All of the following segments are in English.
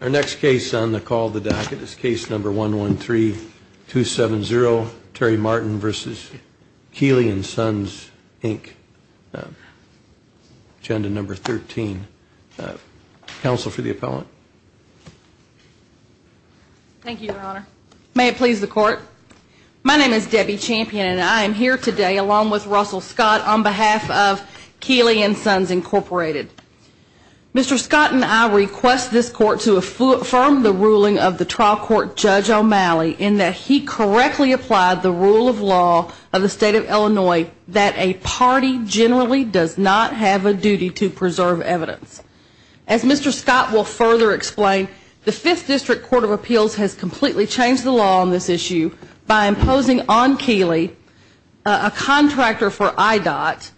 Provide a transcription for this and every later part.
Our next case on the call of the docket is Case No. 113-270, Terry Martin v. Keeley & Sons, Inc., Agenda No. 13. Counsel for the appellant? Thank you, Your Honor. May it please the Court? My name is Debbie Champion, and I am here today, along with Russell Scott, on behalf of Keeley & Sons, Inc. Mr. Scott and I request this Court to affirm the ruling of the trial court Judge O'Malley in that he correctly applied the rule of law of the State of Illinois that a party generally does not have a duty to preserve evidence. As Mr. Scott will further explain, the Fifth District Court of Appeals has completely changed the law on this issue by imposing on Keeley, a contractor for IDOT,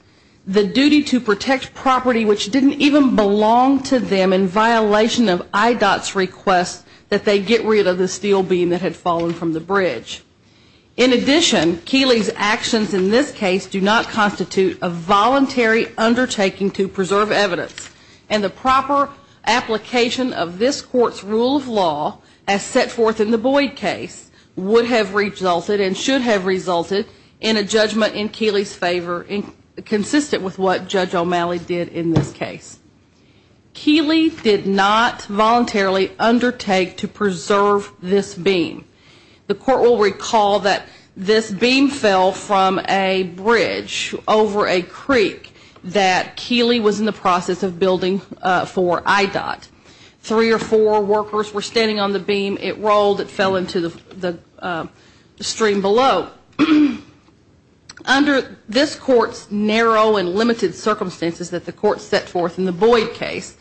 the duty to protect property which didn't even belong to them in violation of IDOT's request that they get rid of the steel beam that had fallen from the bridge. In addition, Keeley's actions in this case do not constitute a voluntary undertaking to preserve evidence, and the proper application of this Court's rule of law as set forth in the Boyd case would have resulted and should have resulted in a judgment in Keeley's favor consistent with what Judge O'Malley did in this case. Keeley did not voluntarily undertake to preserve this beam. The Court will recall that this beam fell from a bridge over a creek that Keeley was in the process of building for IDOT. Three or four workers were standing on the beam. It rolled. It fell into the stream below. Now, under this Court's narrow and limited circumstances that the Court set forth in the Boyd case,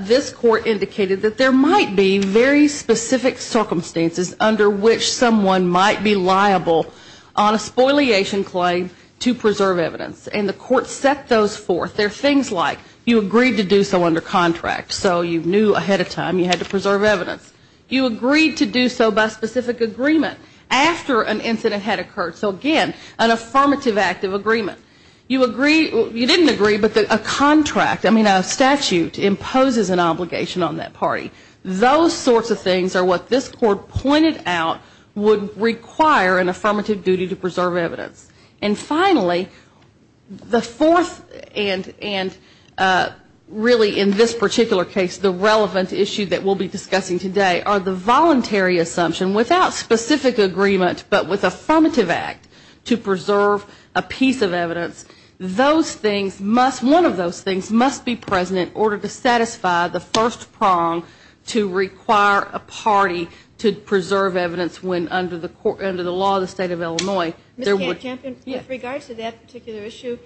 this Court indicated that there might be very specific circumstances under which someone might be liable on a spoliation claim to preserve evidence, and the Court set those forth. They're things like you agreed to do so under contract, so you knew ahead of time you had to preserve evidence. You agreed to do so by specific agreement after an incident had occurred. So again, an affirmative act of agreement. You didn't agree, but a contract, I mean a statute, imposes an obligation on that party. Those sorts of things are what this Court pointed out would require an affirmative duty to preserve evidence. And finally, the fourth, and really in this particular case the relevant issue that we'll be discussing today, are the voluntary assumption without specific agreement but with affirmative act to preserve a piece of evidence. Those things must, one of those things must be present in order to satisfy the first prong to require a party to preserve evidence when under the law of the State of Illinois. Ms. Campion, with regards to that particular issue,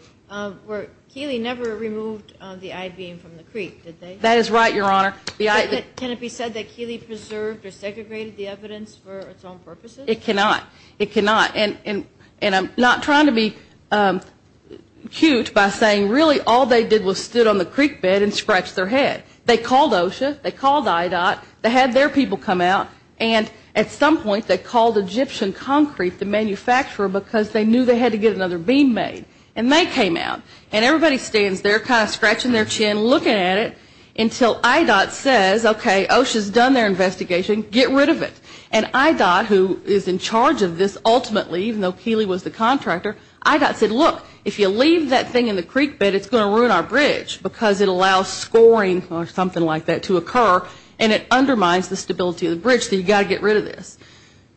Keeley never removed the I-beam from the creek, did they? That is right, Your Honor. Can it be said that Keeley preserved or segregated the evidence for its own purposes? It cannot. It cannot. And I'm not trying to be cute by saying really all they did was stood on the creek bed and scratched their head. They called OSHA. They called IDOT. They had their people come out. And at some point they called Egyptian Concrete, the manufacturer, because they knew they had to get another beam made. And they came out. And everybody stands there kind of scratching their chin looking at it until IDOT says, okay, OSHA's done their investigation. Get rid of it. And IDOT, who is in charge of this ultimately, even though Keeley was the contractor, IDOT said, look, if you leave that thing in the creek bed, it's going to ruin our bridge because it allows scoring or something like that to occur and it undermines the stability of the bridge. So you've got to get rid of this.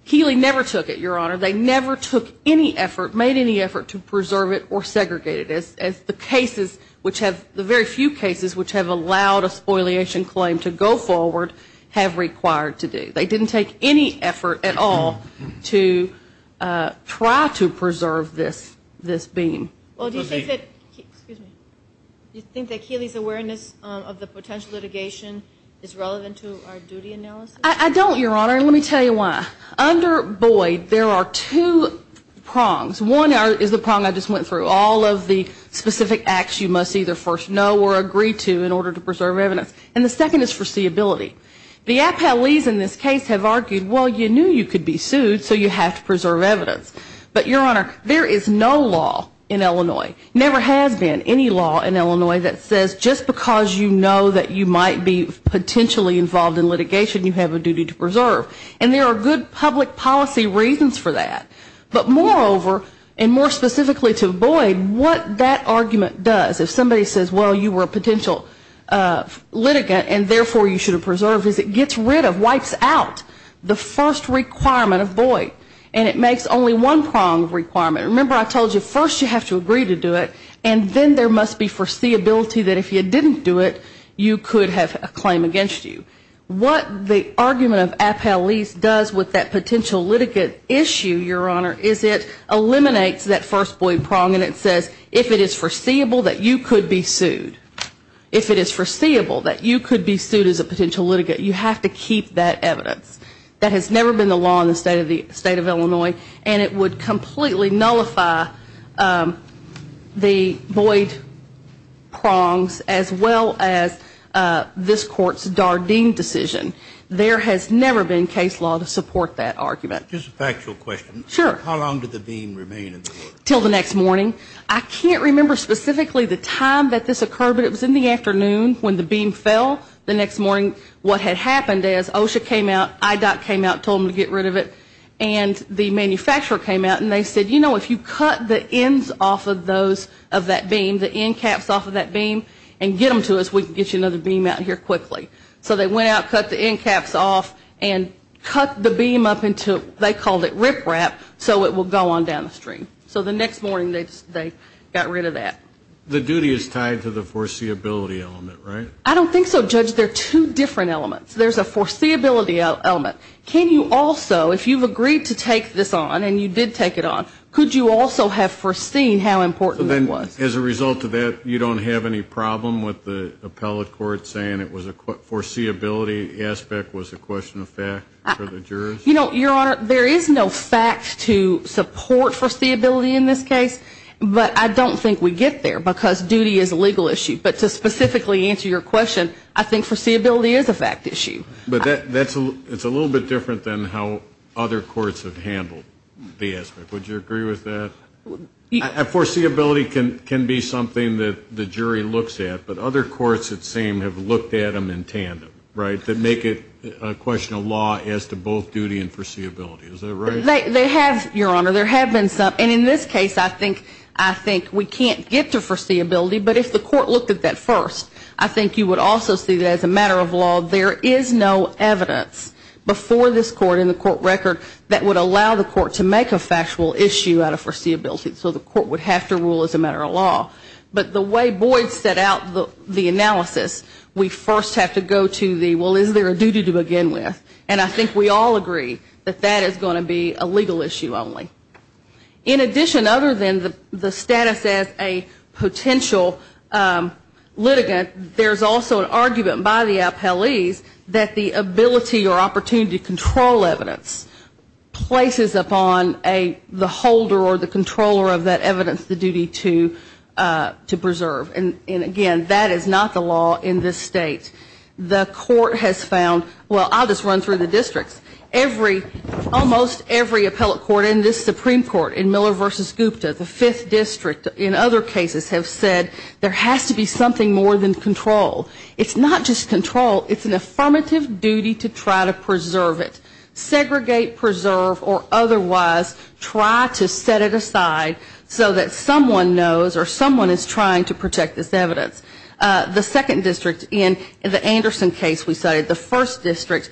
Keeley never took it, Your Honor. They never took any effort, made any effort to preserve it or segregate it as the cases which have, the very few cases which have allowed a spoliation claim to go forward have required to do. They didn't take any effort at all to try to preserve this beam. Well, do you think that, excuse me, do you think that Keeley's awareness of the potential litigation is relevant to our duty analysis? I don't, Your Honor, and let me tell you why. Under Boyd, there are two prongs. One is the prong I just went through. All of the specific acts you must either first know or agree to in order to preserve evidence. And the second is foreseeability. The appellees in this case have argued, well, you knew you could be sued, so you have to preserve evidence. But, Your Honor, there is no law in Illinois, never has been any law in Illinois that says just because you know that you might be potentially involved in litigation, you have a duty to preserve. And there are good public policy reasons for that. But moreover, and more specifically to Boyd, what that argument does, if somebody says, well, you were a potential litigant, and therefore you should have preserved, is it gets rid of, wipes out the first requirement of Boyd. And it makes only one prong of requirement. Remember I told you first you have to agree to do it, and then there must be foreseeability that if you didn't do it, you could have a claim against you. What the argument of appellees does with that potential litigant issue, Your Honor, is it eliminates that first Boyd prong, and it says if it is foreseeable that you could be sued. If it is foreseeable that you could be sued as a potential litigant, you have to keep that evidence. That has never been the law in the state of Illinois, and it would completely nullify the Boyd prongs as well as this Court's Dardeen decision. There has never been case law to support that argument. Just a factual question. Sure. How long did the beam remain in the court? Until the next morning. I can't remember specifically the time that this occurred, but it was in the afternoon when the beam fell. The next morning what had happened is OSHA came out, IDOT came out, told them to get rid of it, and the manufacturer came out and they said, you know, if you cut the ends off of those, of that beam, the end caps off of that beam and get them to us, we can get you another beam out here quickly. So they went out, cut the end caps off, and cut the beam up into, they called it riprap, so it will go on down the stream. So the next morning they got rid of that. The duty is tied to the foreseeability element, right? I don't think so, Judge. They're two different elements. There's a foreseeability element. Can you also, if you've agreed to take this on and you did take it on, could you also have foreseen how important it was? As a result of that, you don't have any problem with the appellate court saying it was a foreseeability aspect was a question of fact for the jurors? You know, Your Honor, there is no fact to support foreseeability in this case, but I don't think we get there because duty is a legal issue. But to specifically answer your question, I think foreseeability is a fact issue. But that's a little bit different than how other courts have handled the aspect. Would you agree with that? Foreseeability can be something that the jury looks at, but other courts it seems have looked at them in tandem, right, that make it a question of law as to both duty and foreseeability. Is that right? They have, Your Honor. There have been some. And in this case, I think we can't get to foreseeability. But if the court looked at that first, I think you would also see that as a matter of law, there is no evidence before this court in the court record that would allow the court to make a factual issue out of foreseeability. So the court would have to rule as a matter of law. But the way Boyd set out the analysis, we first have to go to the, well, is there a duty to begin with? And I think we all agree that that is going to be a legal issue only. In addition, other than the status as a potential litigant, there's also an argument by the appellees that the ability or opportunity to control evidence places upon the holder or the controller of that evidence the duty to preserve. And, again, that is not the law in this State. The court has found, well, I'll just run through the districts. Every, almost every appellate court in this Supreme Court, in Miller v. Gupta, the Fifth District, in other cases have said there has to be something more than control. It's not just control. It's an affirmative duty to try to preserve it. Segregate, preserve, or otherwise try to set it aside so that someone knows or someone is trying to protect this evidence. The Second District in the Anderson case we cited, the First District,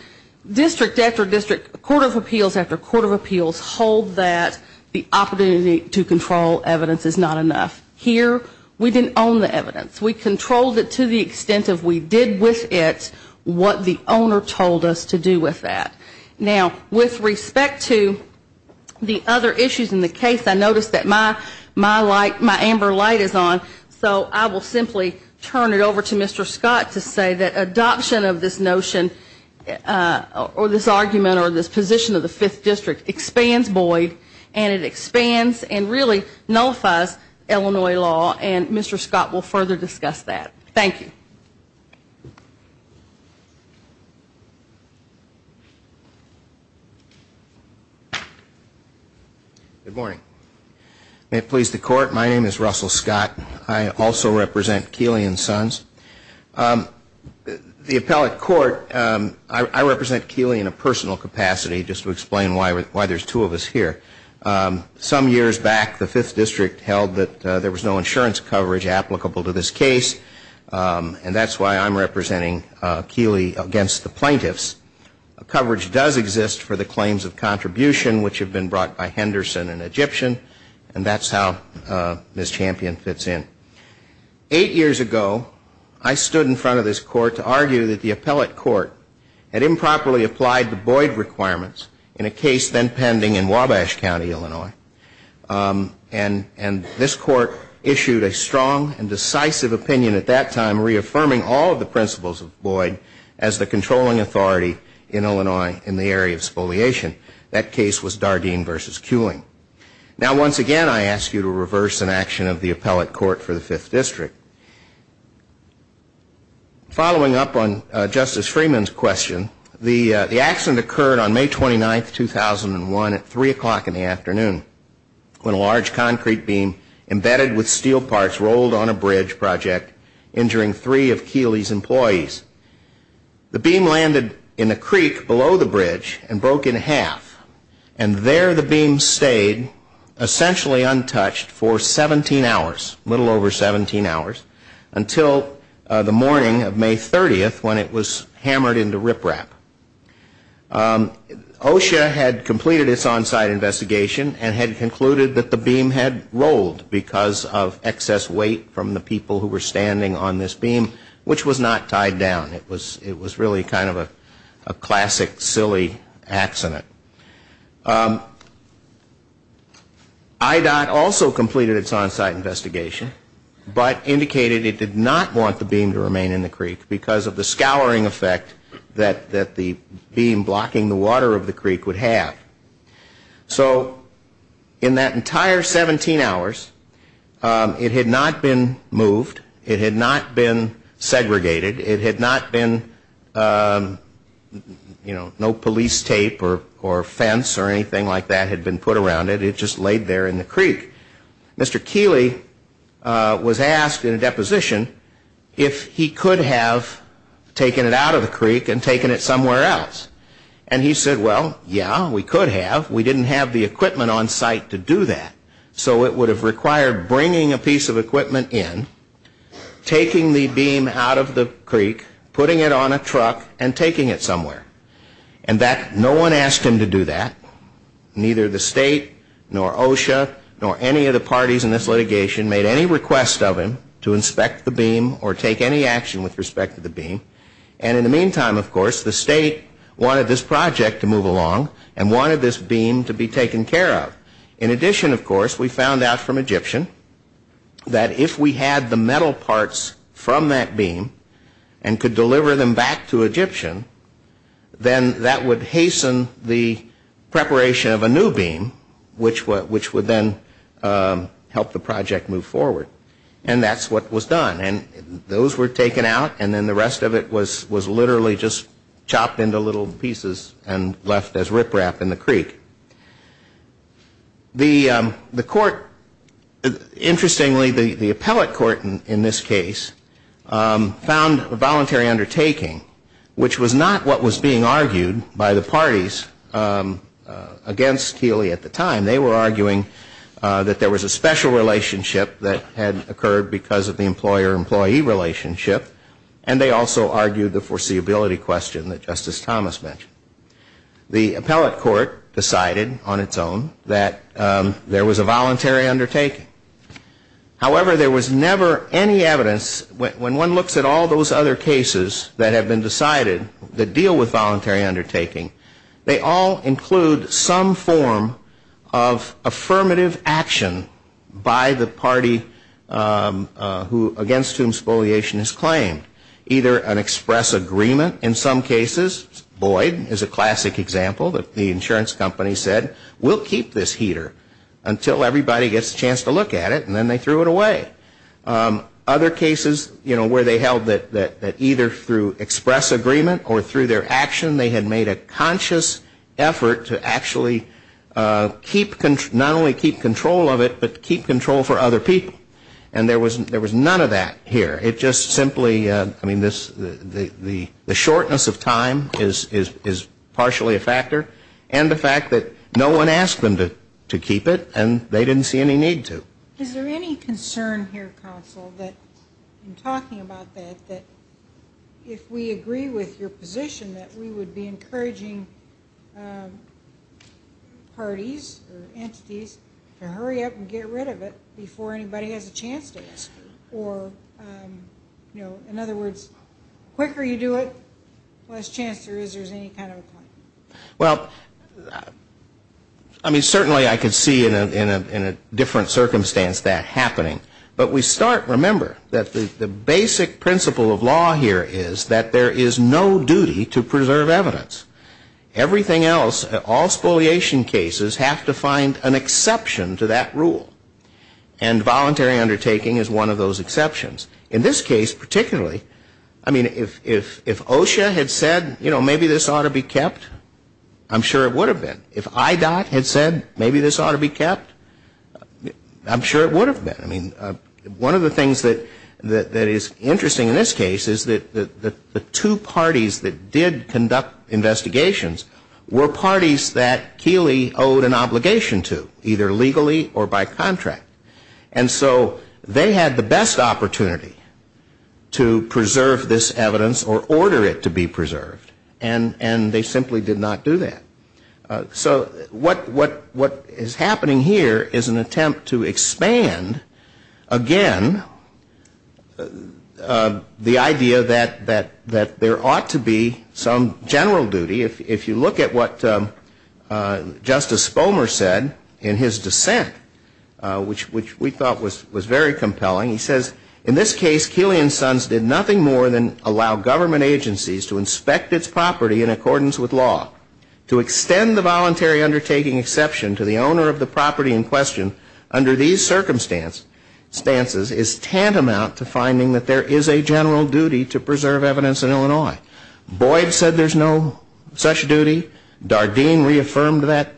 district after district, court of appeals after court of appeals hold that the opportunity to control evidence is not enough. Here we didn't own the evidence. We controlled it to the extent of we did with it what the owner told us to do with that. Now, with respect to the other issues in the case, I noticed that my amber light is on, so I will simply turn it over to Mr. Scott to say that adoption of this notion or this argument or this position of the Fifth District expands Boyd, and it expands and really nullifies Illinois law, and Mr. Scott will further discuss that. Thank you. Good morning. May it please the court, my name is Russell Scott. I also represent Keeley and Sons. The appellate court, I represent Keeley in a personal capacity just to explain why there's two of us here. Some years back, the Fifth District held that there was no insurance coverage applicable to this case, and that's why I'm representing Keeley against the plaintiffs. Coverage does exist for the claims of contribution which have been brought by Henderson and Egyptian, and that's how Ms. Champion fits in. Eight years ago, I stood in front of this court to argue that the appellate court had improperly applied the And this court issued a strong and decisive opinion at that time, reaffirming all of the principles of Boyd as the controlling authority in Illinois in the area of spoliation. That case was Dardeen v. Keeley. Now, once again, I ask you to reverse an action of the appellate court for the Fifth District. Following up on Justice Freeman's question, the accident occurred on May 29, 2001 at 3 o'clock in the afternoon when a large concrete beam embedded with steel parts rolled on a bridge project, injuring three of Keeley's employees. The beam landed in a creek below the bridge and broke in half, and there the beam stayed essentially untouched for 17 hours, a little over 17 hours, until the morning of May 30th when it was hammered into riprap. OSHA had completed its on-site investigation and had concluded that the beam had rolled because of excess weight from the people who were standing on this beam, which was not tied down. It was really kind of a classic, silly accident. IDOT also completed its on-site investigation, but indicated it did not want the beam to remain in the creek because of the scouring effect that the beam blocking the water of the creek would have. So in that entire 17 hours, it had not been moved, it had not been segregated, it had not been, you know, no police tape or fence or anything like that had been put around it. It just laid there in the creek. Mr. Keeley was asked in a deposition if he could have taken it out of the creek and taken it somewhere else. And he said, well, yeah, we could have. We didn't have the equipment on site to do that, so it would have required bringing a piece of equipment in, taking the beam out of the creek, putting it on a truck, and taking it somewhere. And no one asked him to do that. Neither the state, nor OSHA, nor any of the parties in this litigation made any request of him to inspect the beam or take any action with respect to the beam. And in the meantime, of course, the state wanted this project to move along and wanted this beam to be taken care of. In addition, of course, we found out from Egyptian that if we had the metal parts from that beam and could deliver them back to Egyptian, then that would hasten the preparation of a new beam, which would then help the project move forward. And that's what was done. And those were taken out, and then the rest of it was literally just chopped into little pieces and left as riprap in the creek. The court, interestingly, the appellate court in this case, found a voluntary undertaking, which was not what was being argued by the parties against Healy at the time. They were arguing that there was a special relationship that had occurred because of the employer-employee relationship, and they also argued the foreseeability question that Justice Thomas mentioned. The appellate court decided on its own that there was a voluntary undertaking. However, there was never any evidence, when one looks at all those other cases that have been decided that deal with voluntary undertaking, they all include some form of affirmative action by the party against whom spoliation is claimed, either an express agreement in some cases. Boyd is a classic example that the insurance company said, we'll keep this heater until everybody gets a chance to look at it, and then they threw it away. Other cases where they held that either through express agreement or through their action, they had made a conscious effort to actually not only keep control of it, but keep control for other people. And there was none of that here. It just simply, I mean, the shortness of time is partially a factor, and the fact that no one asked them to keep it, and they didn't see any need to. Is there any concern here, counsel, that in talking about that, that if we agree with your position that we would be encouraging parties or entities to hurry up and get rid of it before anybody has a chance to ask it, or, you know, in other words, quicker you do it, less chance there is there's any kind of a claim? Well, I mean, certainly I could see in a different circumstance that happening. But we start, remember, that the basic principle of law here is that there is no duty to preserve evidence. Everything else, all spoliation cases, have to find an exception to that rule. And voluntary undertaking is one of those exceptions. In this case particularly, I mean, if OSHA had said, you know, maybe this ought to be kept, I'm sure it would have been. If IDOT had said maybe this ought to be kept, I'm sure it would have been. I mean, one of the things that is interesting in this case is that the two parties that did conduct investigations were parties that Keeley owed an obligation to, either legally or by contract. And so they had the best opportunity to preserve this evidence or order it to be preserved. And they simply did not do that. So what is happening here is an attempt to expand, again, the idea that there ought to be some general duty, if you look at what Justice Spomer said in his dissent, which we thought was very compelling. He says, in this case, Keeley and Sons did nothing more than allow government agencies to inspect its property in accordance with law. To extend the voluntary undertaking exception to the owner of the property in question under these circumstances is tantamount to finding that there is a general duty to preserve evidence in Illinois. Boyd said there's no such duty. Dardeen reaffirmed that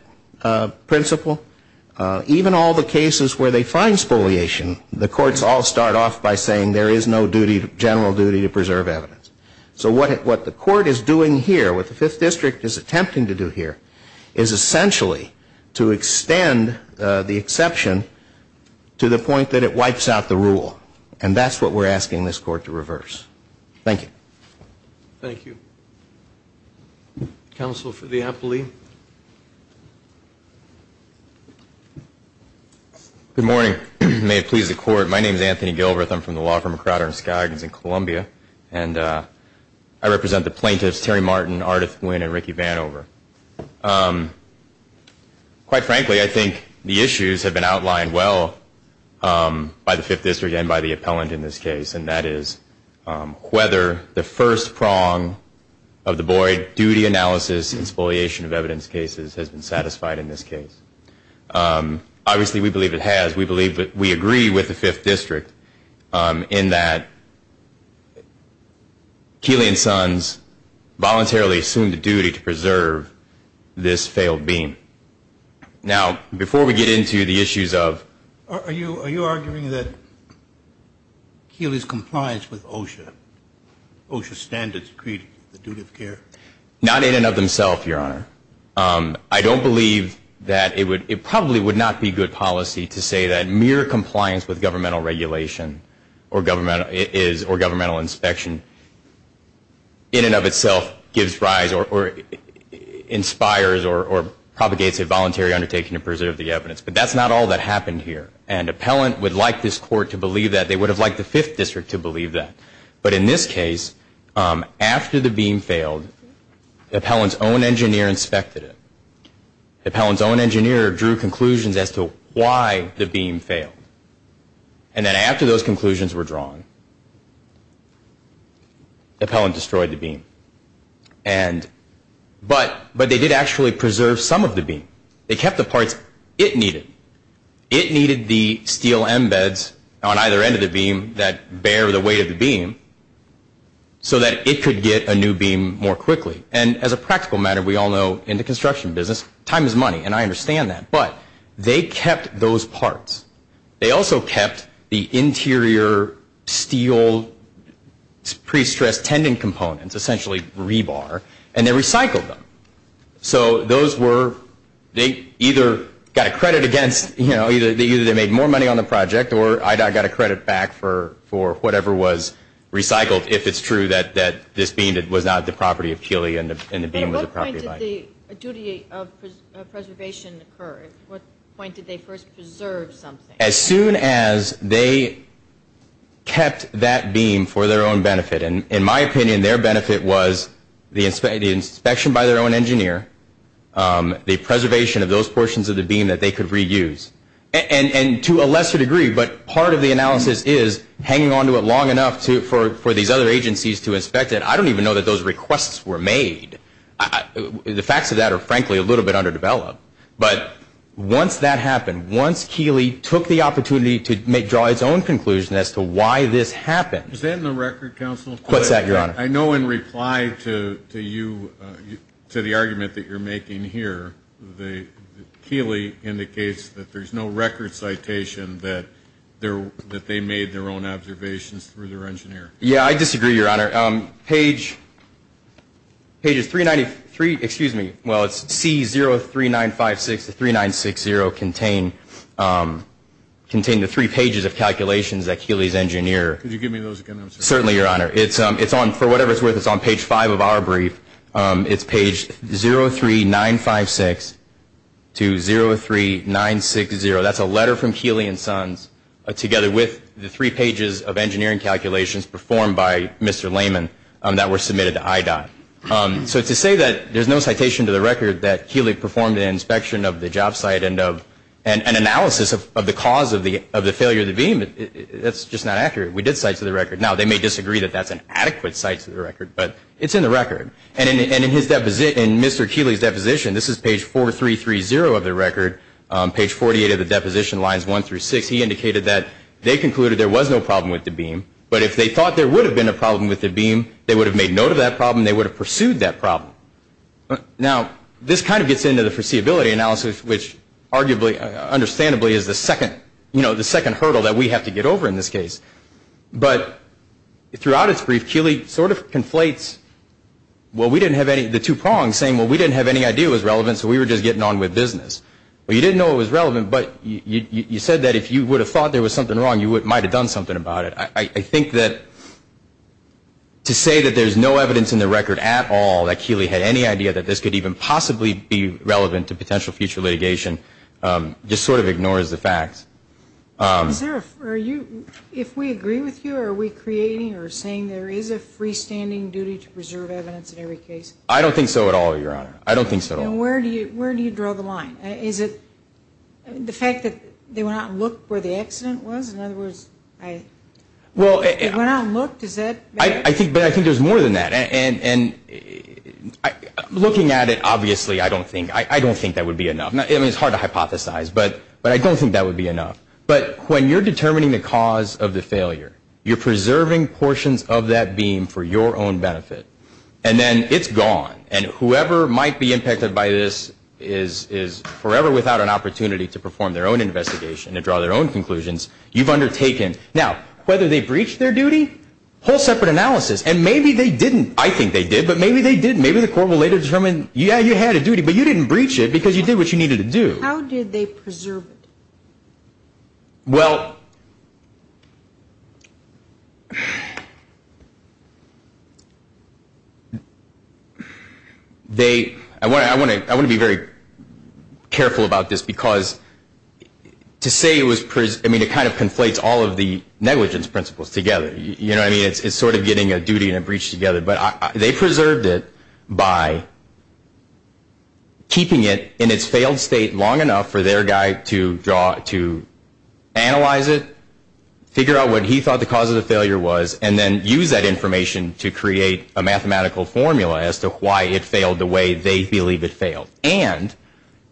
principle. Even all the cases where they find spoliation, the courts all start off by saying there is no general duty to preserve evidence. So what the court is doing here, what the Fifth District is attempting to do here, is essentially to extend the exception to the point that it wipes out the rule. And that's what we're asking this court to reverse. Thank you. Thank you. Counsel for the appellee. Good morning. May it please the Court. My name is Anthony Gilbert. I'm from the Law Firm of Crowder and Skaggins in Columbia, and I represent the plaintiffs Terry Martin, Ardith Nguyen, and Ricky Vanover. Quite frankly, I think the issues have been outlined well by the Fifth District and by the appellant in this case, and that is whether the first prong of the Boyd duty analysis and spoliation of evidence cases has been satisfied in this case. Obviously, we believe it has. We believe that we agree with the Fifth District in that Keeley and Sons voluntarily assumed a duty to preserve this failed beam. Now, before we get into the issues of... Are you arguing that Keeley's compliance with OSHA standards created the duty of care? Not in and of themselves, Your Honor. I don't believe that it probably would not be good policy to say that mere compliance with governmental regulation or governmental inspection in and of itself gives rise or inspires or propagates a voluntary undertaking to preserve the evidence. But that's not all that happened here. And appellant would like this Court to believe that. They would have liked the Fifth District to believe that. But in this case, after the beam failed, the appellant's own engineer inspected it. The appellant's own engineer drew conclusions as to why the beam failed. And then after those conclusions were drawn, the appellant destroyed the beam. But they did actually preserve some of the beam. They kept the parts it needed. It needed the steel embeds on either end of the beam that bear the weight of the beam so that it could get a new beam more quickly. And as a practical matter, we all know in the construction business, time is money, and I understand that. But they kept those parts. They also kept the interior steel pre-stressed tendon components, essentially rebar, and they recycled them. So those were, they either got a credit against, you know, either they made more money on the project or I got a credit back for whatever was recycled, if it's true that this beam was not the property of Keely and the beam was the property of Ike. When did the duty of preservation occur? At what point did they first preserve something? As soon as they kept that beam for their own benefit. And in my opinion, their benefit was the inspection by their own engineer, the preservation of those portions of the beam that they could reuse. And to a lesser degree, but part of the analysis is hanging onto it long enough for these other agencies to inspect it. And I don't even know that those requests were made. The facts of that are, frankly, a little bit underdeveloped. But once that happened, once Keely took the opportunity to draw its own conclusion as to why this happened. Is that in the record, Counsel? What's that, Your Honor? I know in reply to you, to the argument that you're making here, Keely indicates that there's no record citation that they made their own observations through their engineer. Yeah, I disagree, Your Honor. Page 393, excuse me, well, it's C03956 to 3960 contain the three pages of calculations that Keely's engineer. Could you give me those again? Certainly, Your Honor. It's on, for whatever it's worth, it's on page five of our brief. It's page 03956 to 03960. That's a letter from Keely and Sons together with the three pages of engineering calculations performed by Mr. Layman that were submitted to IDOT. So to say that there's no citation to the record that Keely performed an inspection of the job site and an analysis of the cause of the failure of the beam, that's just not accurate. We did cite to the record. Now, they may disagree that that's an adequate cite to the record, but it's in the record. And in Mr. Keely's deposition, this is page 4330 of the record, page 48 of the deposition lines one through six, he indicated that they concluded there was no problem with the beam, but if they thought there would have been a problem with the beam, they would have made note of that problem. They would have pursued that problem. Now, this kind of gets into the foreseeability analysis, which arguably, understandably, is the second hurdle that we have to get over in this case. But throughout its brief, Keely sort of conflates, well, we didn't have any, the two prongs saying, well, we didn't have any idea it was relevant, so we were just getting on with business. Well, you didn't know it was relevant, but you said that if you would have thought there was something wrong, you might have done something about it. I think that to say that there's no evidence in the record at all that Keely had any idea that this could even possibly be relevant to potential future litigation just sort of ignores the facts. Is there a, if we agree with you, are we creating or saying there is a freestanding duty to preserve evidence in every case? I don't think so at all, Your Honor. I don't think so at all. Now, where do you draw the line? Is it the fact that they went out and looked where the accident was? In other words, they went out and looked? I think there's more than that, and looking at it, obviously, I don't think that would be enough. I mean, it's hard to hypothesize, but I don't think that would be enough. But when you're determining the cause of the failure, you're preserving portions of that beam for your own benefit, and then it's gone, and whoever might be impacted by this is forever without an opportunity to perform their own investigation and draw their own conclusions. You've undertaken. Now, whether they breached their duty, whole separate analysis, and maybe they didn't. I think they did, but maybe they didn't. Maybe the court will later determine, yeah, you had a duty, but you didn't breach it because you did what you needed to do. How did they preserve it? Well, they – I want to be very careful about this because to say it was – I mean, it kind of conflates all of the negligence principles together. You know what I mean? It's sort of getting a duty and a breach together, but they preserved it by keeping it in its failed state long enough for their guy to draw – to analyze it, figure out what he thought the cause of the failure was, and then use that information to create a mathematical formula as to why it failed the way they believe it failed. And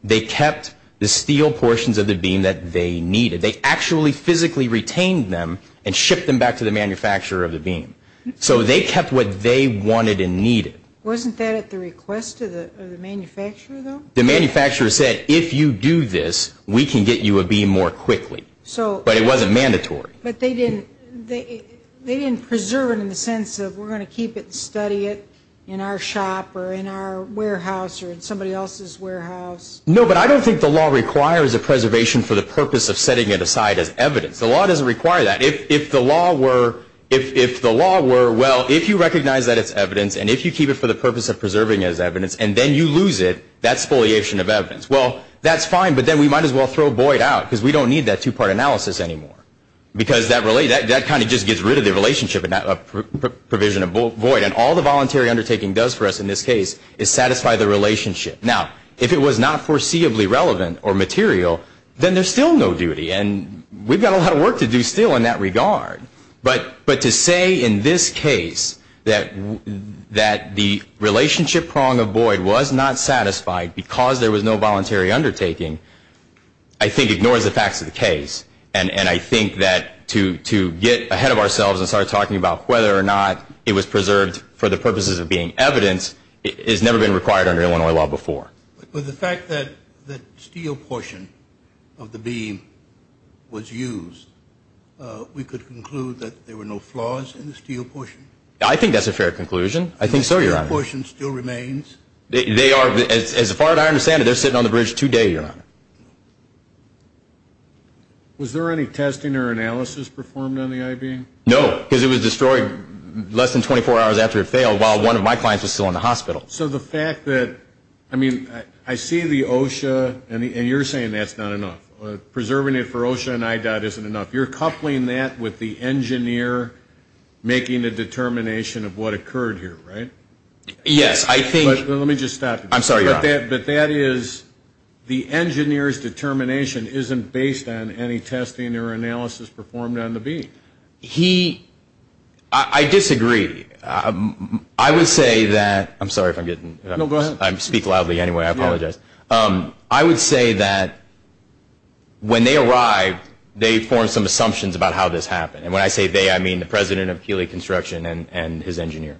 they kept the steel portions of the beam that they needed. They actually physically retained them and shipped them back to the manufacturer of the beam. So they kept what they wanted and needed. Wasn't that at the request of the manufacturer, though? The manufacturer said, if you do this, we can get you a beam more quickly. So – But it wasn't mandatory. But they didn't – they didn't preserve it in the sense of we're going to keep it and study it in our shop or in our warehouse or in somebody else's warehouse. No, but I don't think the law requires a preservation for the purpose of setting it aside as evidence. The law doesn't require that. If the law were – if the law were, well, if you recognize that it's evidence and if you keep it for the purpose of preserving it as evidence and then you lose it, that's foliation of evidence. Well, that's fine, but then we might as well throw a void out because we don't need that two-part analysis anymore because that kind of just gets rid of the relationship and that provision of void. And all the voluntary undertaking does for us in this case is satisfy the relationship. Now, if it was not foreseeably relevant or material, then there's still no duty. And we've got a lot of work to do still in that regard. But to say in this case that the relationship prong of void was not satisfied because there was no voluntary undertaking I think ignores the facts of the case. And I think that to get ahead of ourselves and start talking about whether or not it was preserved for the purposes of being evidence has never been required under Illinois law before. But the fact that the steel portion of the beam was used, we could conclude that there were no flaws in the steel portion? I think that's a fair conclusion. I think so, Your Honor. And the steel portion still remains? They are – as far as I understand it, they're sitting on the bridge today, Your Honor. Was there any testing or analysis performed on the I-beam? No, because it was destroyed less than 24 hours after it failed while one of my clients was still in the hospital. So the fact that – I mean, I see the OSHA, and you're saying that's not enough. Preserving it for OSHA and IDOT isn't enough. You're coupling that with the engineer making the determination of what occurred here, right? Yes, I think – Let me just stop you. I'm sorry, Your Honor. But that is – the engineer's determination isn't based on any testing or analysis performed on the beam. He – I disagree. I would say that – I'm sorry if I'm getting – No, go ahead. I speak loudly anyway. I apologize. I would say that when they arrived, they formed some assumptions about how this happened. And when I say they, I mean the president of Keeley Construction and his engineer.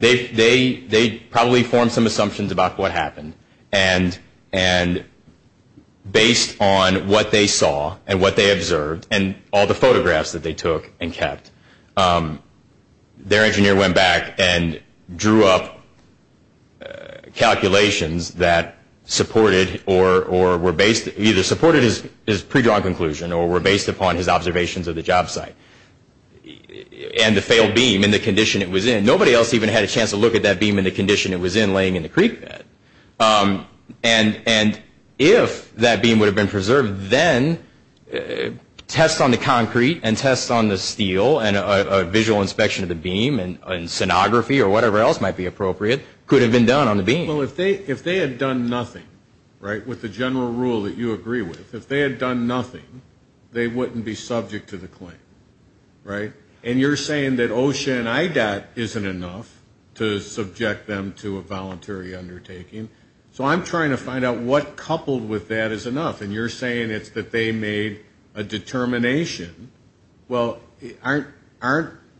They probably formed some assumptions about what happened. And based on what they saw and what they observed and all the photographs that they took and kept, their engineer went back and drew up calculations that supported or were based – either supported his pre-drawn conclusion or were based upon his observations of the job site and the failed beam and the condition it was in. Nobody else even had a chance to look at that beam and the condition it was in laying in the creek bed. And if that beam would have been preserved, then tests on the concrete and tests on the steel and a visual inspection of the beam and sonography or whatever else might be appropriate could have been done on the beam. Well, if they had done nothing, right, with the general rule that you agree with, if they had done nothing, they wouldn't be subject to the claim, right? And you're saying that OSHA and IDOT isn't enough to subject them to a voluntary undertaking. So I'm trying to find out what coupled with that is enough. And you're saying it's that they made a determination. Well, aren't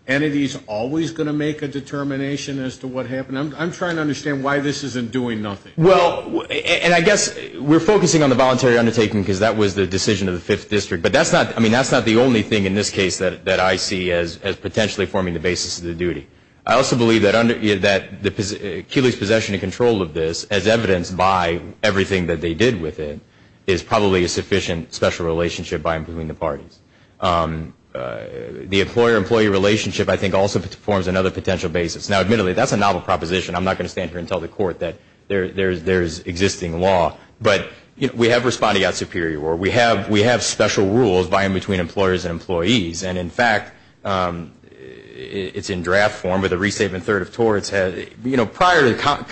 entities always going to make a determination as to what happened? I'm trying to understand why this isn't doing nothing. Well, and I guess we're focusing on the voluntary undertaking because that was the decision of the 5th District. But that's not the only thing in this case that I see as potentially forming the basis of the duty. I also believe that Keeley's possession and control of this, as evidenced by everything that they did with it, is probably a sufficient special relationship by and between the parties. The employer-employee relationship, I think, also forms another potential basis. Now, admittedly, that's a novel proposition. I'm not going to stand here and tell the Court that there is existing law. But, you know, we have respondeat superior. We have special rules by and between employers and employees. And, in fact, it's in draft form with a restatement third of torts. You know, prior to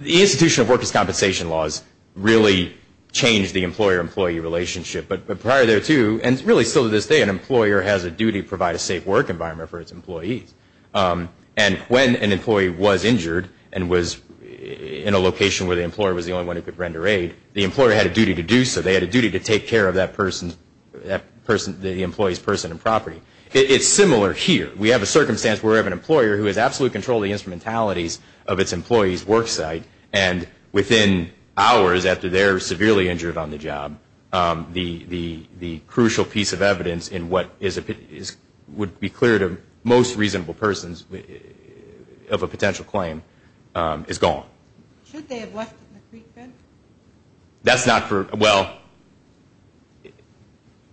the institution of workers' compensation laws really changed the employer-employee relationship. But prior there, too, and really still to this day, an employer has a duty to provide a safe work environment for its employees. And when an employee was injured and was in a location where the employer was the only one who could render aid, the employer had a duty to do so. They had a duty to take care of that person, the employee's person and property. It's similar here. We have a circumstance where we have an employer who has absolute control of the instrumentalities of its employee's work site. And within hours after they're severely injured on the job, the crucial piece of evidence in what would be clear to most reasonable persons of a potential claim is gone. Should they have left it in the creek bed? That's not true. Well,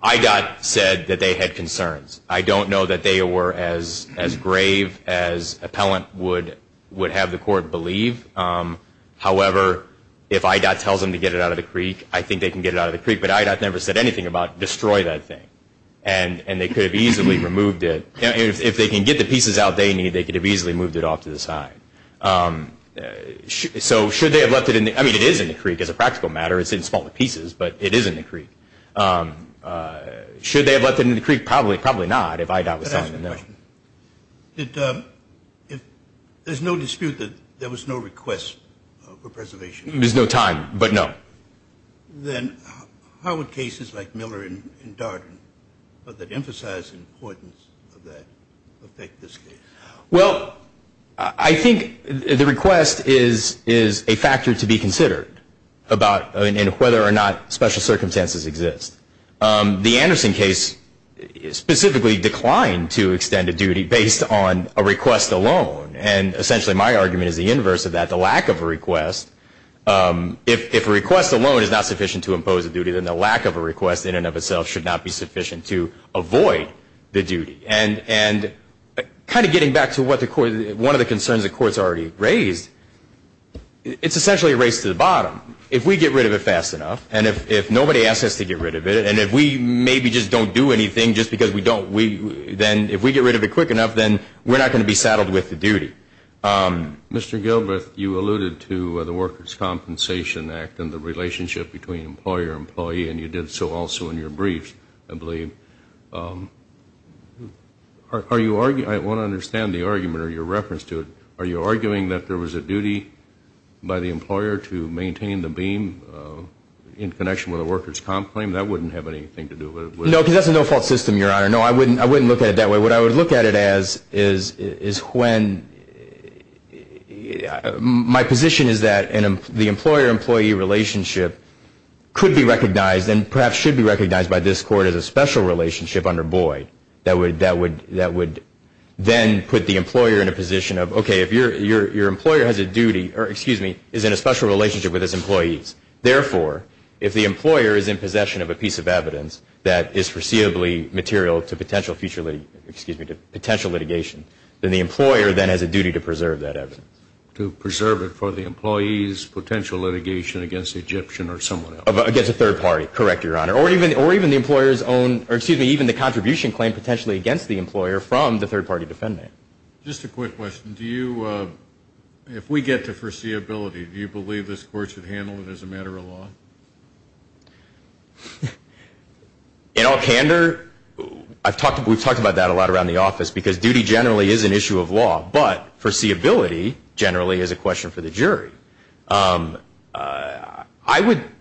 IDOT said that they had concerns. I don't know that they were as grave as appellant would have the Court believe. However, if IDOT tells them to get it out of the creek, I think they can get it out of the creek. But IDOT never said anything about destroy that thing. And they could have easily removed it. If they can get the pieces out they need, they could have easily moved it off to the side. So should they have left it in the – I mean, it is in the creek as a practical matter. It's in smaller pieces, but it is in the creek. Should they have left it in the creek? Probably not if IDOT was telling them that. If there's no dispute that there was no request for preservation. There's no time, but no. Then how would cases like Miller and Darden, that emphasize the importance of that, affect this case? Well, I think the request is a factor to be considered about whether or not special circumstances exist. The Anderson case specifically declined to extend a duty based on a request alone. And essentially my argument is the inverse of that. The lack of a request – if a request alone is not sufficient to impose a duty, then the lack of a request in and of itself should not be sufficient to avoid the duty. And kind of getting back to what the – one of the concerns the Court's already raised, it's essentially a race to the bottom. If we get rid of it fast enough, and if nobody asks us to get rid of it, and if we maybe just don't do anything just because we don't, then if we get rid of it quick enough, then we're not going to be saddled with the duty. Mr. Gilbreth, you alluded to the Workers' Compensation Act and the relationship between employer-employee, and you did so also in your briefs, I believe. Are you – I want to understand the argument or your reference to it. Are you arguing that there was a duty by the employer to maintain the beam in connection with a workers' comp claim? That wouldn't have anything to do with it, would it? No, because that's a no-fault system, Your Honor. No, I wouldn't look at it that way. What I would look at it as is when – my position is that the employer-employee relationship could be recognized and perhaps should be recognized by this Court as a special relationship under Boyd that would then put the employer in a position of, okay, if your employer has a duty or, excuse me, is in a special relationship with his employees, therefore, if the employer is in possession of a piece of evidence that is foreseeably material to potential litigation, then the employer then has a duty to preserve that evidence. To preserve it for the employee's potential litigation against the Egyptian or someone else. Against a third party, correct, Your Honor, or even the employer's own – or, excuse me, even the contribution claim potentially against the employer from the third-party defendant. Just a quick question. Do you – if we get to foreseeability, do you believe this Court should handle it as a matter of law? In all candor, I've talked – we've talked about that a lot around the office because duty generally is an issue of law, but foreseeability generally is a question for the jury. I would –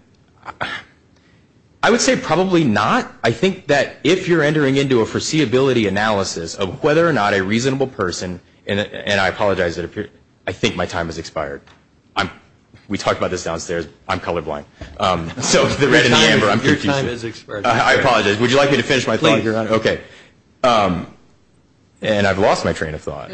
I would say probably not. I think that if you're entering into a foreseeability analysis of whether or not a reasonable person – and I apologize, I think my time has expired. We talked about this downstairs. I'm colorblind. So the red and the amber, I'm confused. Your time has expired. Would you like me to finish my thought? Please, Your Honor. Okay. And I've lost my train of thought.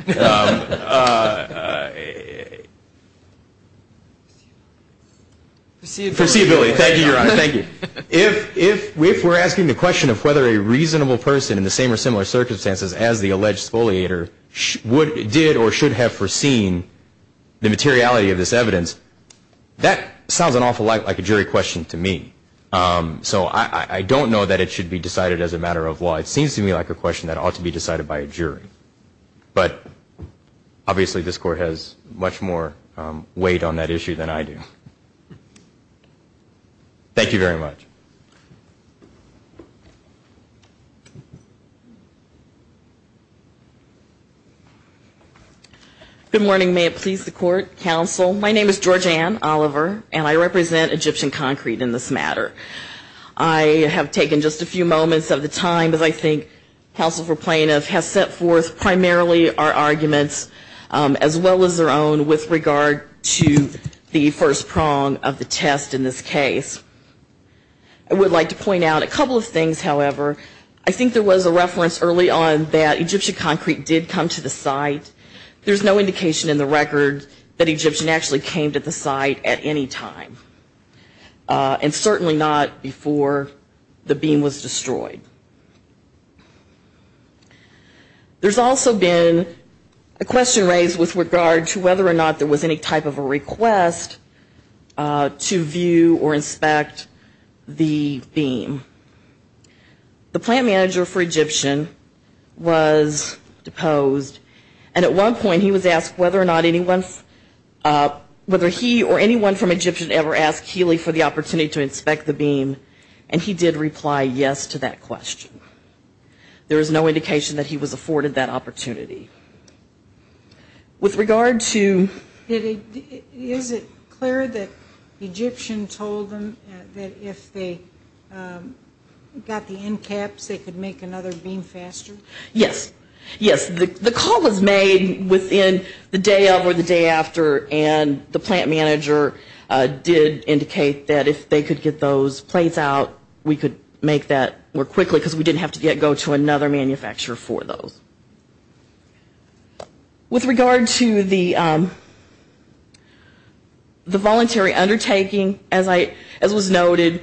Foreseeability. Thank you, Your Honor. Thank you. If we're asking the question of whether a reasonable person in the same or similar circumstances as the alleged spoliator did or should have foreseen the materiality of this evidence, that sounds an awful lot like a jury question to me. So I don't know that it should be decided as a matter of law. It seems to me like a question that ought to be decided by a jury. But obviously this Court has much more weight on that issue than I do. Thank you very much. Good morning. May it please the Court, Counsel. My name is Georgeann Oliver, and I represent Egyptian Concrete in this matter. I have taken just a few moments of the time, as I think Counsel for Plaintiff has set forth primarily our arguments, as well as their own with regard to the first prong of the test in this case. I would like to point out a couple of things, however. I think there was a reference early on that Egyptian Concrete did come to the site. There's no indication in the record that Egyptian actually came to the site at any time, and certainly not before the beam was destroyed. There's also been a question raised with regard to whether or not there was any type of a request to view or inspect the beam. The plant manager for Egyptian was deposed, and at one point he was asked whether or not anyone, whether he or anyone from Egyptian ever asked Healy for the opportunity to inspect the beam, and he did reply yes to that question. There is no indication that he was afforded that opportunity. With regard to... Is it clear that Egyptian told them that if they got the end caps, they could make another beam faster? Yes. Yes, the call was made within the day of or the day after, and the plant manager did indicate that if they could get those plates out, we could make that more quickly because we didn't have to go to another manufacturer for those. With regard to the voluntary undertaking, as was noted,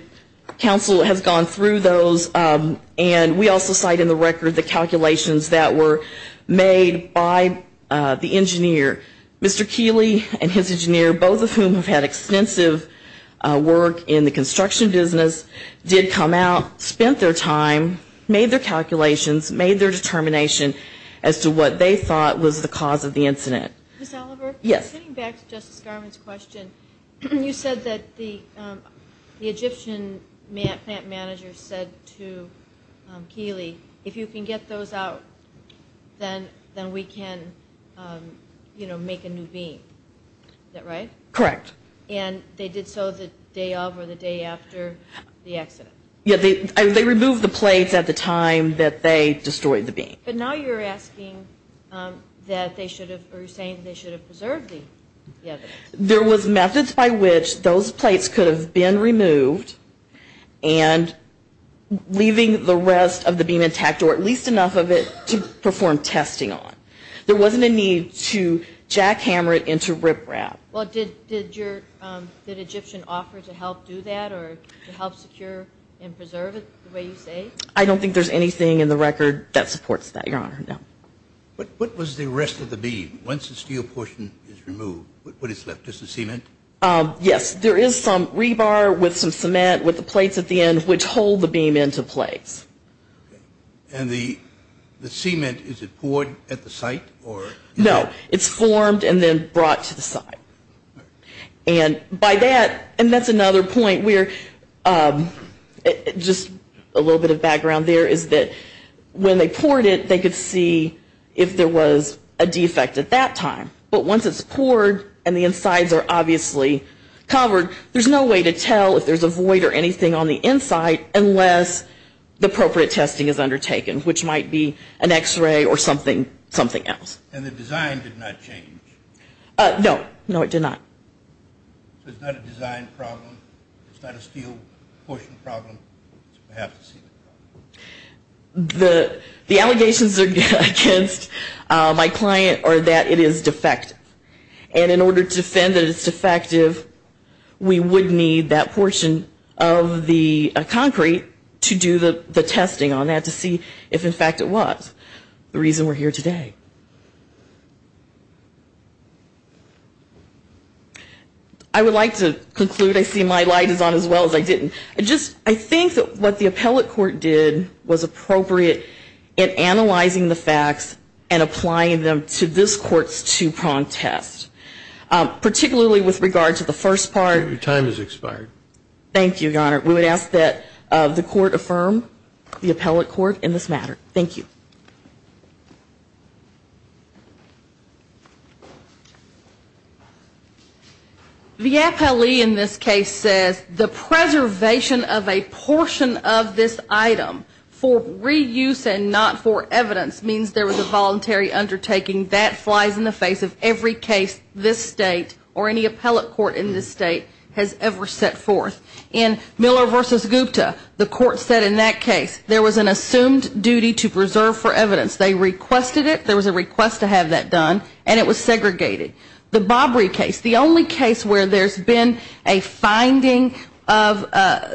Council has gone through those, and we also cite in the record the calculations that were made by the engineer. Mr. Healy and his engineer, both of whom have had extensive work in the construction business, did come out, spent their time, made their calculations, made their determination as to what they thought was the cause of the incident. Ms. Oliver? Yes. Getting back to Justice Garland's question, you said that the Egyptian plant manager said to Healy, if you can get those out, then we can, you know, make a new beam. Is that right? Correct. And they did so the day of or the day after the accident? Yes. They removed the plates at the time that they destroyed the beam. But now you're asking that they should have, or you're saying they should have preserved the evidence. There was methods by which those plates could have been removed and leaving the rest of the beam intact, or at least enough of it to perform testing on. There wasn't a need to jackhammer it into riprap. Well, did Egyptian offer to help do that or to help secure and preserve it, the way you say? I don't think there's anything in the record that supports that, Your Honor, no. What was the rest of the beam, once the steel portion is removed? What is left, just the cement? Yes. There is some rebar with some cement with the plates at the end which hold the beam into place. And the cement, is it poured at the site? No. It's formed and then brought to the site. And by that, and that's another point where, just a little bit of background there, is that when they poured it, they could see if there was a defect at that time. But once it's poured and the insides are obviously covered, there's no way to tell if there's a void or anything on the inside unless the appropriate testing is undertaken, which might be an x-ray or something else. And the design did not change? No, no it did not. So it's not a design problem? It's not a steel portion problem? I have to see that. The allegations against my client are that it is defective. And in order to defend that it's defective, we would need that portion of the concrete to do the testing on that to see if in fact it was. The reason we're here today. I would like to conclude. I see my light is on as well as I didn't. I think that what the appellate court did was appropriate in analyzing the facts and applying them to this court's two-prong test. Particularly with regard to the first part. Your time has expired. Thank you, Your Honor. We would ask that the court affirm the appellate court in this matter. Thank you. Thank you. The appellee in this case says the preservation of a portion of this item for reuse and not for evidence means there was a voluntary undertaking. That flies in the face of every case this state or any appellate court in this state has ever set forth. In Miller v. Gupta, the court said in that case there was an assumed duty to preserve for evidence. They requested it. There was a request to have that done. And it was segregated. The Bobry case, the only case where there's been a finding of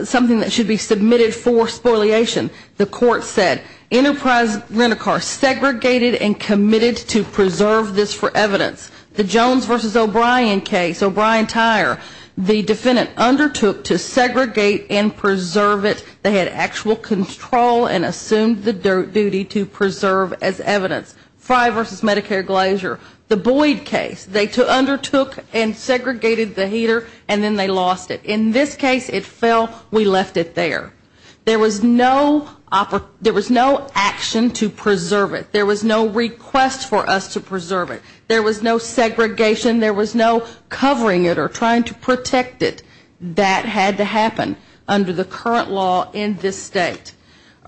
something that should be submitted for spoliation, the court said Enterprise Rent-A-Car segregated and committed to preserve this for evidence. The Jones v. O'Brien case, O'Brien Tire, the defendant undertook to segregate and preserve it. They had actual control and assumed the duty to preserve as evidence. Frye v. Medicare Glacier, the Boyd case. They undertook and segregated the heater and then they lost it. In this case it fell, we left it there. There was no action to preserve it. There was no request for us to preserve it. There was no segregation. There was no covering it or trying to protect it. That had to happen under the current law in this state.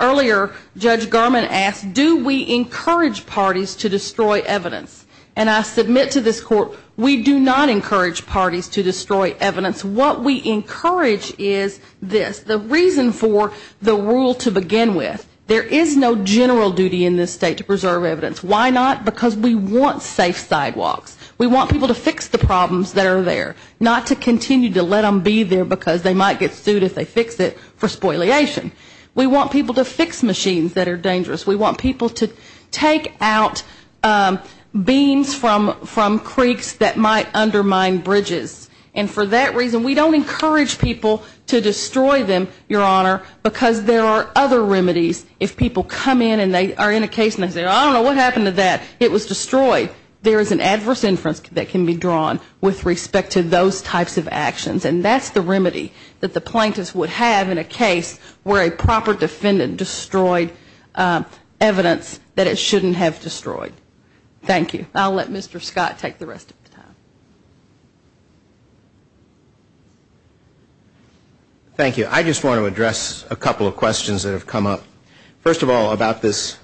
Earlier, Judge Gurman asked, do we encourage parties to destroy evidence? And I submit to this court, we do not encourage parties to destroy evidence. What we encourage is this, the reason for the rule to begin with, there is no general duty in this state to preserve evidence. Why not? Because we want safe sidewalks. We want people to fix the problems that are there. Not to continue to let them be there because they might get sued if they fix it for spoliation. We want people to fix machines that are dangerous. We want people to take out beams from creeks that might undermine bridges. And for that reason, we don't encourage people to destroy them, Your Honor, because there are other remedies. If people come in and they are in a case and they say, I don't know what happened to that. It was destroyed. There is an adverse inference that can be drawn with respect to those types of actions, and that's the remedy that the plaintiffs would have in a case where a proper defendant destroyed evidence that it shouldn't have destroyed. Thank you. I'll let Mr. Scott take the rest of the time. Thank you. I just want to address a couple of questions that have come up. First of all, about this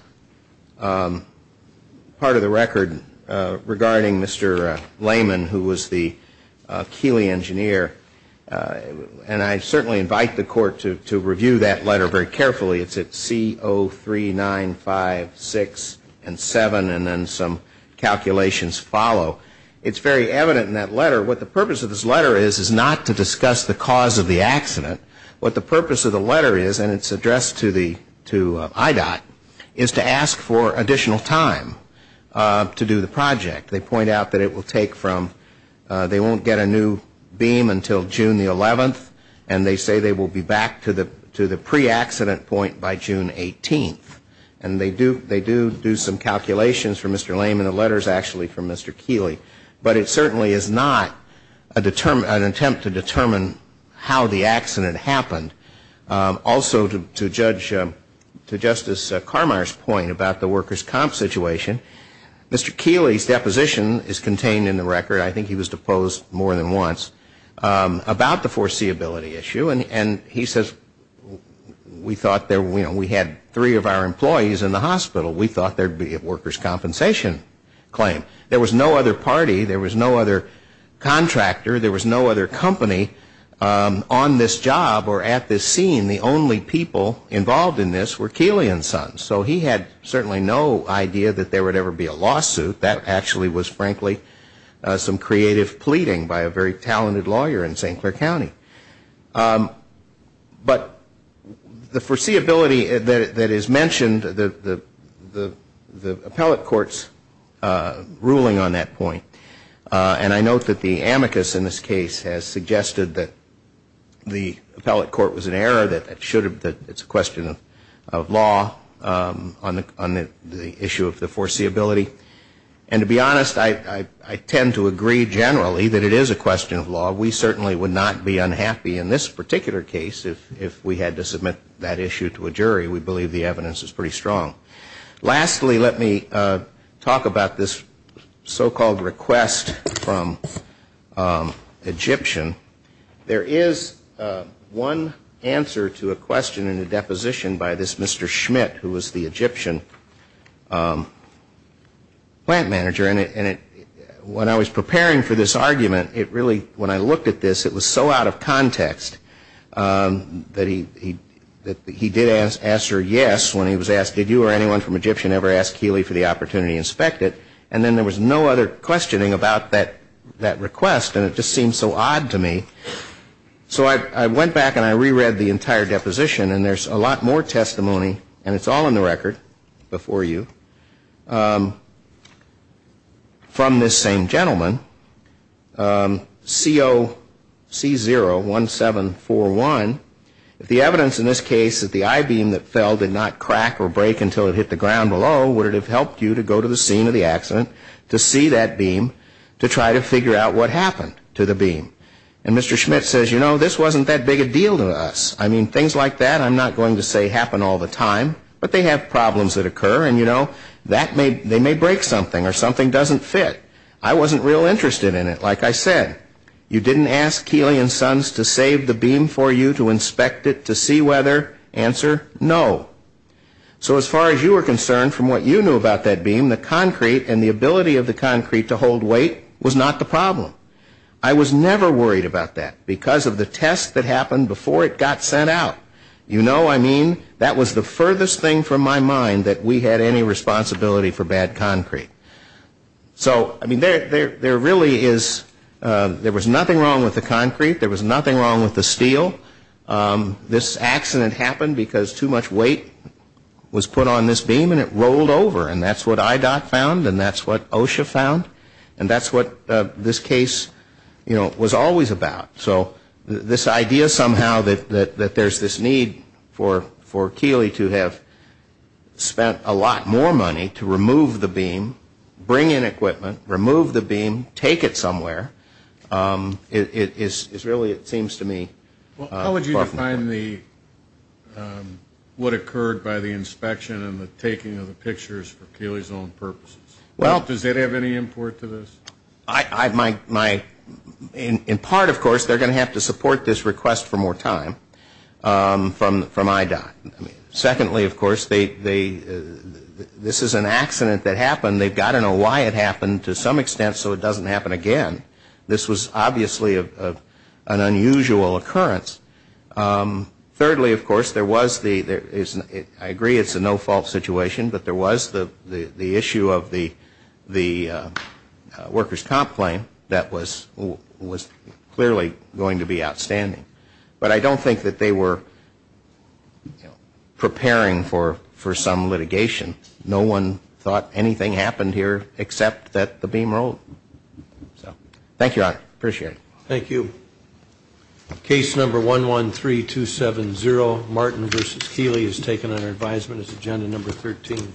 part of the record regarding Mr. Lehman, who was the Keeley engineer, and I certainly invite the court to review that letter very carefully. It's at C03956 and 7, and then some calculations follow. It's very evident in that letter, what the purpose of this letter is, is not to discuss the cause of the accident. What the purpose of the letter is, and it's addressed to IDOT, is to ask for additional time to do the project. They point out that it will take from, they won't get a new beam until June the 11th, and they say they will be back to the pre-accident point by June 18th. And they do do some calculations for Mr. Lehman. The letter is actually from Mr. Keeley. But it certainly is not an attempt to determine how the accident happened. Also, to Judge, to Justice Carmeier's point about the workers' comp situation, Mr. Keeley's deposition is contained in the record, I think he was deposed more than once, about the foreseeability issue, and he says, we thought there, you know, we had three of our employees in the hospital. We thought there would be a workers' compensation claim. There was no other party. There was no other contractor. There was no other company on this job or at this scene. The only people involved in this were Keeley and Sons. So he had certainly no idea that there would ever be a lawsuit. That actually was, frankly, some creative pleading by a very talented lawyer in St. Clair County. But the foreseeability that is mentioned, the appellate court's ruling on that point, and I note that the amicus in this case has suggested that the appellate court was in error, that it's a question of law on the issue of the foreseeability. And to be honest, I tend to agree generally that it is a question of law. We certainly would not be unhappy in this particular case if we had to submit that issue to a jury. We believe the evidence is pretty strong. Lastly, let me talk about this so-called request from Egyptian. There is one answer to a question in a deposition by this Mr. Schmidt, who was the Egyptian plant manager. And when I was preparing for this argument, it really, when I looked at this, it was so out of context that he did answer yes when he was asked, did you or anyone from Egyptian ever ask Keeley for the opportunity to inspect it? And then there was no other questioning about that request, and it just seemed so odd to me. So I went back and I reread the entire deposition, and there's a lot more testimony, and it's all in the record before you, from this same gentleman, COC01741. The evidence in this case that the I-beam that fell did not crack or break until it hit the ground below, would it have helped you to go to the scene of the accident to see that beam, to try to figure out what happened to the beam? And Mr. Schmidt says, you know, this wasn't that big a deal to us. I mean, things like that I'm not going to say happen all the time, but they have problems that occur, and you know, they may break something or something doesn't fit. I wasn't real interested in it. Like I said, you didn't ask Keeley and Sons to save the beam for you to inspect it to see whether? Answer, no. So as far as you were concerned, from what you knew about that beam, the concrete and the ability of the concrete to hold weight was not the problem. I was never worried about that because of the test that happened before it got sent out. You know, I mean, that was the furthest thing from my mind that we had any responsibility for bad concrete. So, I mean, there really is, there was nothing wrong with the concrete. There was nothing wrong with the steel. This accident happened because too much weight was put on this beam and it rolled over, and that's what IDOT found and that's what OSHA found, and that's what this case, you know, was always about. So this idea somehow that there's this need for Keeley to have spent a lot more money to remove the beam, bring in equipment, remove the beam, take it somewhere, is really, it seems to me, important. How would you define what occurred by the inspection and the taking of the pictures for Keeley's own purposes? Well, does it have any import to this? In part, of course, they're going to have to support this request for more time from IDOT. Secondly, of course, this is an accident that happened. They've got to know why it happened to some extent so it doesn't happen again. This was obviously an unusual occurrence. Thirdly, of course, there was the, I agree it's a no-fault situation, but there was the issue of the workers' comp claim that was clearly going to be outstanding. But I don't think that they were preparing for some litigation. No one thought anything happened here except that the beam rolled. Thank you, Your Honor. Appreciate it. Thank you. Case number 113270, Martin v. Keeley, is taken under advisement as agenda number 13.